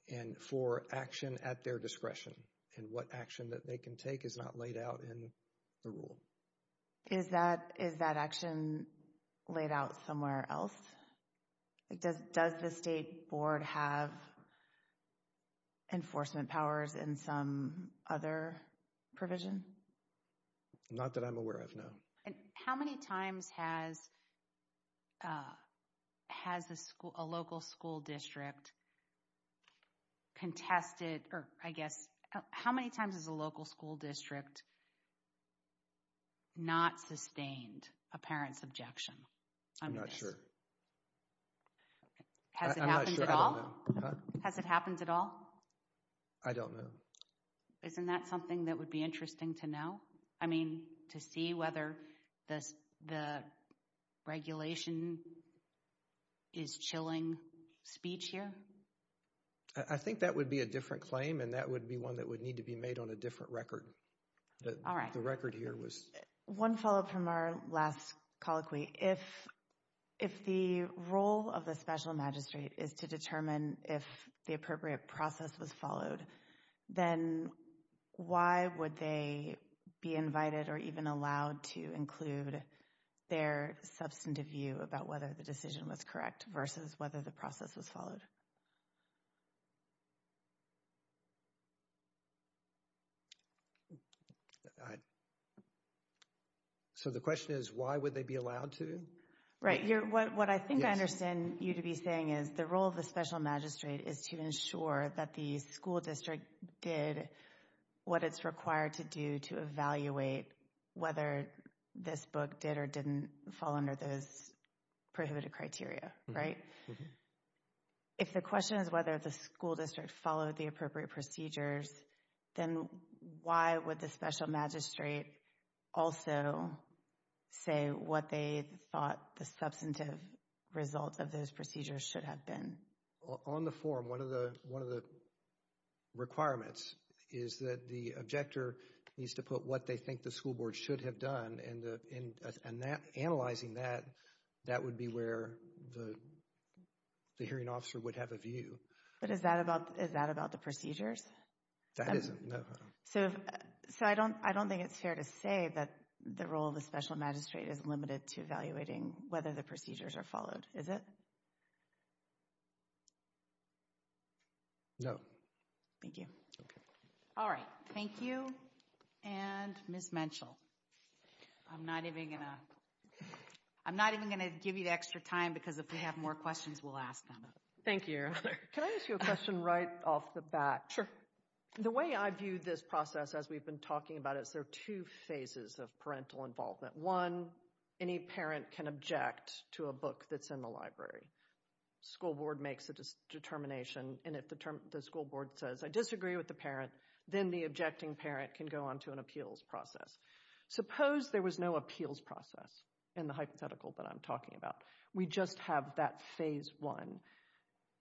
and for action at their discretion and what action that they can take is not laid out in the rule. Is that, is that action laid out somewhere else? Like does, does the State Board have enforcement powers in some other provision? Not that I'm aware of, no. And how many times has, has a school, a local school district contested, or I guess, how many times has a local school district not sustained a parent's objection? I'm not sure. Has it happened at all? Has it happened at all? I don't know. Isn't that something that would be interesting to know? I mean, to see whether the, the regulation is chilling speech here? I think that would be a different claim and that would be one that would need to be made on a different record. All right. The record here was. One follow up from our last colloquy. If, if the role of the special magistrate is to determine if the appropriate process was followed, then why would they be invited or even allowed to include their substantive view about whether the decision was correct versus whether the process was followed? So, the question is, why would they be allowed to? Right. You're, what, what I think I understand you to be saying is the role of the special magistrate is to ensure that the school district did what it's required to do to evaluate whether this book did or didn't fall under those prohibited criteria, right? Mm hmm. If the question is whether the school district followed the appropriate procedures, then why would the special magistrate also say what they thought the substantive result of those procedures should have been? On the form, one of the, one of the requirements is that the objector needs to put what they school board should have done and, and, and that analyzing that, that would be where the, the hearing officer would have a view. But is that about, is that about the procedures? That isn't, no. So, so I don't, I don't think it's fair to say that the role of the special magistrate is limited to evaluating whether the procedures are followed, is it? No. Thank you. Okay. Thank you. And Ms. Menschel, I'm not even going to, I'm not even going to give you the extra time because if we have more questions, we'll ask them. Thank you. Can I ask you a question right off the bat? The way I view this process, as we've been talking about it, is there are two phases of parental involvement. One, any parent can object to a book that's in the library. School board makes a determination, and if the school board says, I disagree with the parent, then the objecting parent can go on to an appeals process. Suppose there was no appeals process in the hypothetical that I'm talking about. We just have that phase one.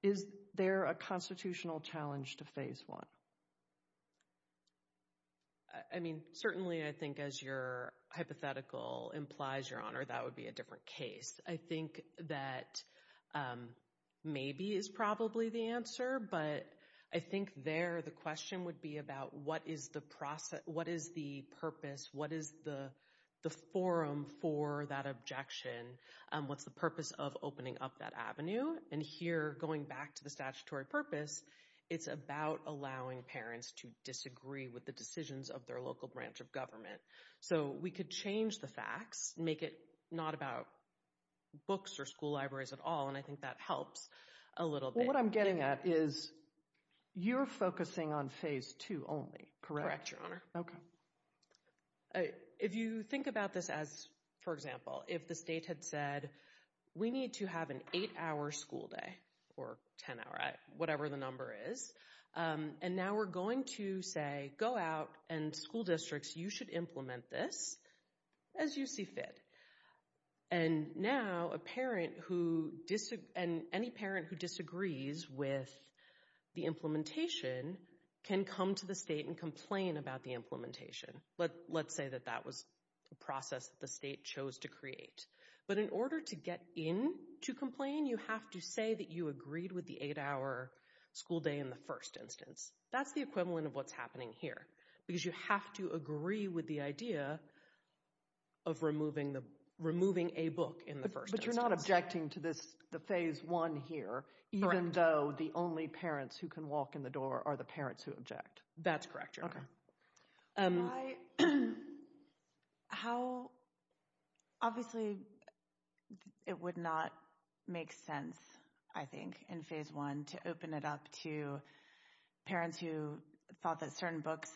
Is there a constitutional challenge to phase one? I mean, certainly I think as your hypothetical implies, Your Honor, that would be a different case. I think that maybe is probably the answer, but I think there the question would be about what is the process? What is the purpose? What is the forum for that objection? What's the purpose of opening up that avenue? And here, going back to the statutory purpose, it's about allowing parents to disagree with the decisions of their local branch of government. So we could change the facts, make it not about books or school libraries at all, and I think that helps a little bit. What I'm getting at is you're focusing on phase two only, correct? Okay. If you think about this as, for example, if the state had said, we need to have an eight hour school day or 10 hour, whatever the number is, and now we're going to say, go out and school districts, you should implement this as you see fit. And now a parent who, and any parent who disagrees with the implementation can come to the state and complain about the implementation. Let's say that that was a process that the state chose to create. But in order to get in to complain, you have to say that you agreed with the eight hour school day in the first instance. That's the equivalent of what's happening here. Because you have to agree with the idea of removing a book in the first instance. But you're not objecting to the phase one here, even though the only parents who can walk in the door are the parents who object. That's correct, Your Honor. I, how, obviously, it would not make sense, I think, in phase one to open it up to parents who thought that certain books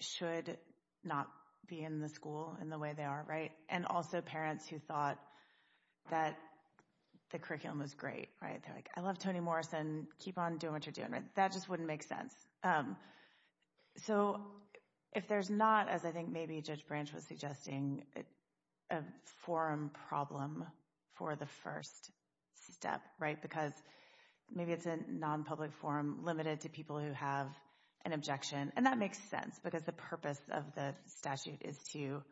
should not be in the school in the way they are, right? And also parents who thought that the curriculum was great, right? They're like, I love Toni Morrison, keep on doing what you're doing. That just wouldn't make sense. Um, so if there's not, as I think maybe Judge Branch was suggesting, a forum problem for the first step, right? Because maybe it's a non-public forum limited to people who have an objection. And that makes sense because the purpose of the statute is to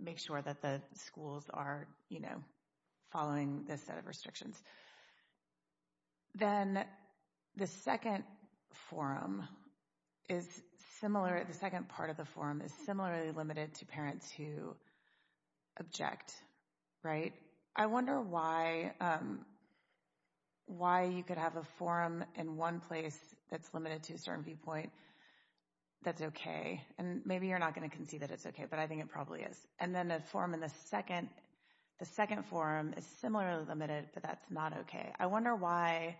make sure that the schools are, you know, following this set of restrictions. Then the second forum is similar, the second part of the forum is similarly limited to parents who object, right? I wonder why, um, why you could have a forum in one place that's limited to a certain viewpoint that's okay. And maybe you're not going to concede that it's okay, but I think it probably is. And then the forum in the second, the second forum is similarly limited, but that's not okay. I wonder why,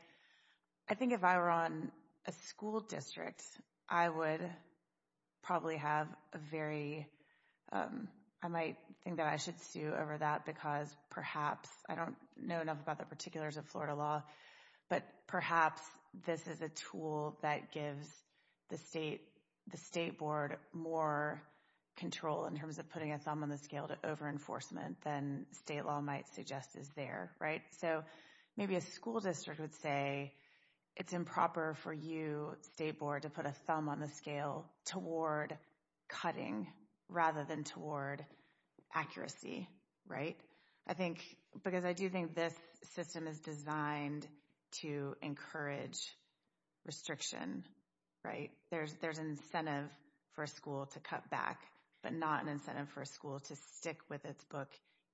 I think if I were on a school district, I would probably have a very, um, I might think that I should sue over that because perhaps, I don't know enough about the particulars of Florida law, but perhaps this is a tool that gives the state, the state board more control in terms of putting a thumb on the scale to over-enforcement than state law might suggest is there, right? So maybe a school district would say it's improper for you, state board, to put a thumb on the scale toward cutting rather than toward accuracy, right? I think, because I do think this system is designed to encourage restriction, right? There's, there's incentive for a school to cut back, but not an incentive for a school to stick with its book,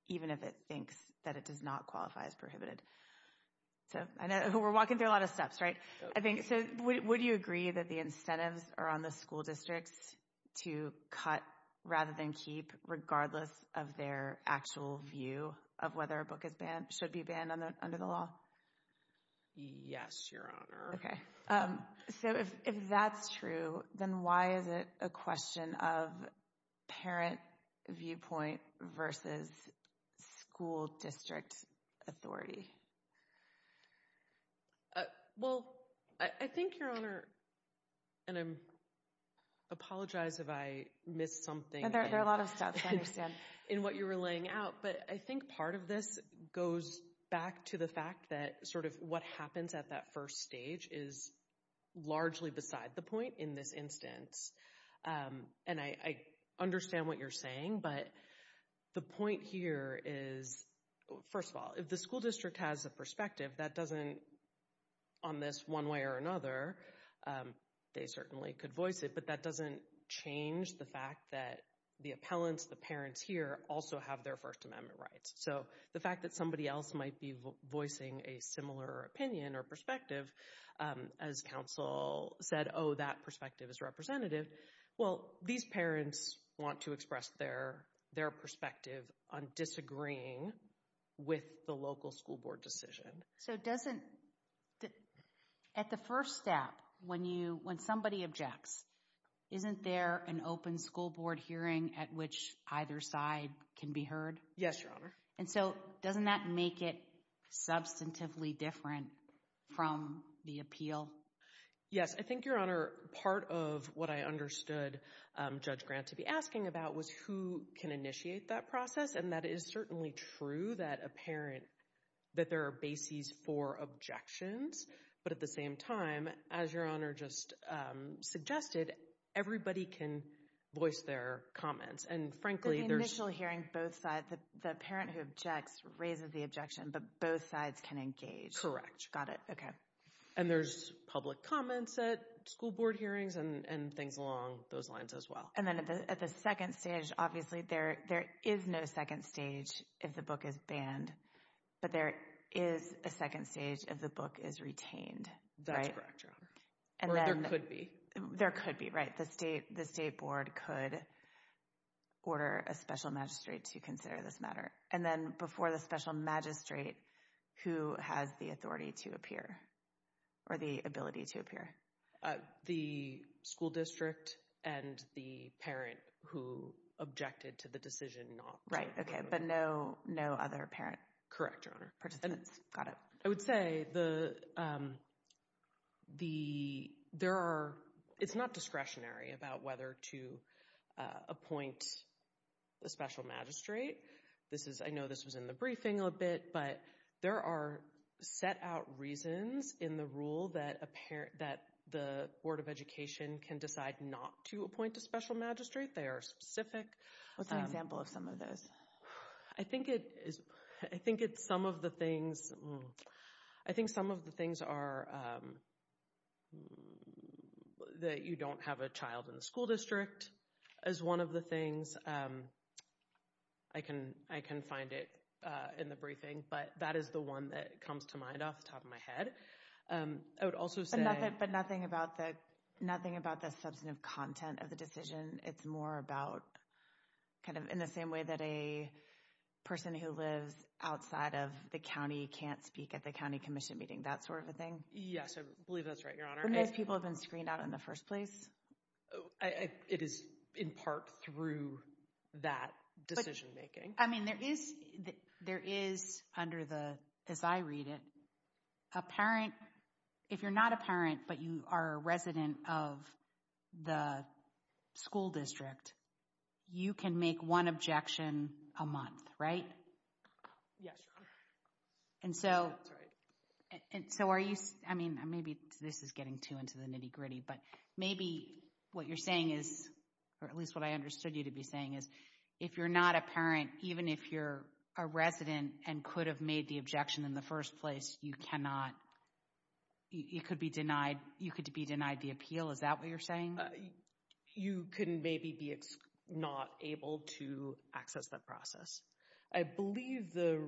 even if it thinks that it does not qualify as prohibited. So I know we're walking through a lot of steps, right? I think so. Would you agree that the incentives are on the school districts to cut rather than keep regardless of their actual view of whether a book is banned, should be banned under the law? Yes, your honor. Okay, so if that's true, then why is it a question of parent viewpoint versus school district authority? Well, I think your honor, and I apologize if I missed something. There are a lot of steps, I understand. In what you were laying out, but I think part of this goes back to the fact that sort of what happens at that first stage is largely beside the point in this instance. And I understand what you're saying, but the point here is, first of all, if the school district has a perspective, that doesn't, on this one way or another, they certainly could voice it, but that doesn't change the fact that the appellants, the parents here also have their First Amendment rights. So the fact that somebody else might be voicing a similar opinion or perspective as counsel said, oh, that perspective is representative. Well, these parents want to express their perspective on disagreeing with the local school board decision. So doesn't, at the first step, when you, when somebody objects, isn't there an open school board hearing at which either side can be heard? Yes, Your Honor. And so doesn't that make it substantively different from the appeal? Yes. I think, Your Honor, part of what I understood Judge Grant to be asking about was who can initiate that process. And that is certainly true that a parent, that there are bases for objections. But at the same time, as Your Honor just suggested, everybody can voice their comments. And frankly, the initial hearing, both sides, the parent who objects raises the objection, but both sides can engage. Got it. Okay. And there's public comments at school board hearings and things along those lines as well. And then at the second stage, obviously there is no second stage if the book is banned, but there is a second stage if the book is retained. That's correct, Your Honor. Or there could be. There could be, right. The state board could order a special magistrate to consider this matter. And then before the special magistrate, who has the authority to appear or the ability to appear? The school district and the parent who objected to the decision not. Right. Okay. But no other parent. Correct, Your Honor. Participants. Got it. I would say it's not discretionary about whether to appoint a special magistrate. I know this was in the briefing a little bit, but there are set out reasons in the rule that the Board of Education can decide not to appoint a special magistrate. They are specific. What's an example of some of those? I think it's some of the things. I think some of the things are that you don't have a child in the school district is one of the things. I can find it in the briefing, but that is the one that comes to mind off the top of my head. I would also say. But nothing about the substantive content of the decision. It's more about kind of in the same way that a person who lives outside of the county can't speak at the county commission meeting. That sort of a thing. Yes, I believe that's right, Your Honor. When those people have been screened out in the first place. It is in part through that decision making. I mean, there is under the, as I read it, a parent, if you're not a parent, but you are a resident of the school district, you can make one objection a month, right? Yes, Your Honor. And so are you, I mean, maybe this is getting too into the nitty gritty, but maybe what you're saying is, or at least what I understood you to be saying is, if you're not a parent, even if you're a resident and could have made the objection in the first place, you cannot, you could be denied, you could be denied the appeal. Is that what you're saying? You could maybe be not able to access that process. I believe the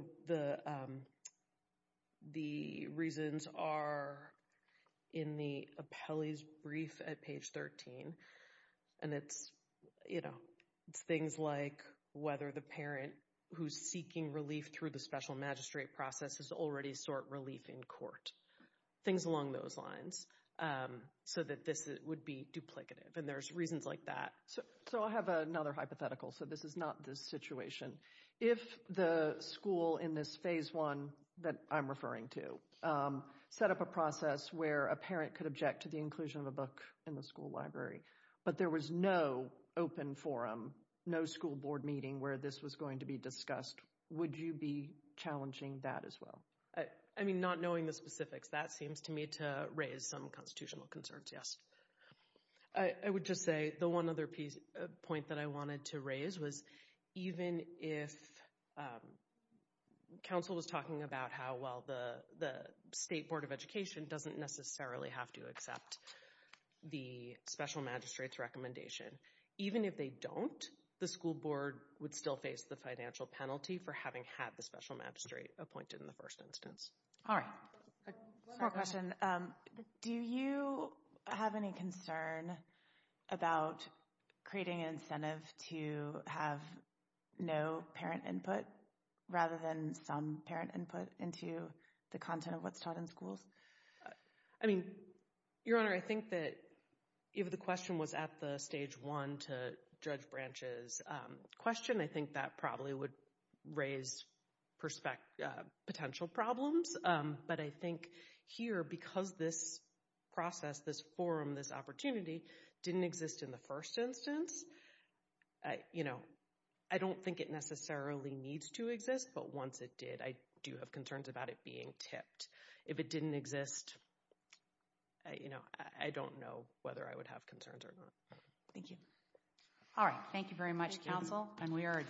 reasons are in the appellee's brief at page 13. And it's, you know, it's things like whether the parent who's seeking relief through the magistrate process has already sought relief in court, things along those lines, so that this would be duplicative. And there's reasons like that. So I have another hypothetical. So this is not this situation. If the school in this phase one that I'm referring to set up a process where a parent could object to the inclusion of a book in the school library, but there was no open forum, no school board meeting where this was going to be discussed, would you be challenging that as well? I mean, not knowing the specifics. That seems to me to raise some constitutional concerns, yes. I would just say the one other point that I wanted to raise was, even if counsel was talking about how, well, the State Board of Education doesn't necessarily have to accept the special magistrate's recommendation, even if they don't, the school board would still the financial penalty for having had the special magistrate appointed in the first instance. All right, one more question. Do you have any concern about creating an incentive to have no parent input rather than some parent input into the content of what's taught in schools? I mean, Your Honor, I think that if the question was at the stage one to Judge Branch's question, I think that probably would raise potential problems. But I think here, because this process, this forum, this opportunity didn't exist in the first instance, I don't think it necessarily needs to exist. But once it did, I do have concerns about it being tipped. If it didn't exist, I don't know whether I would have concerns or not. Thank you. All right. Thank you very much, counsel, and we are adjourned.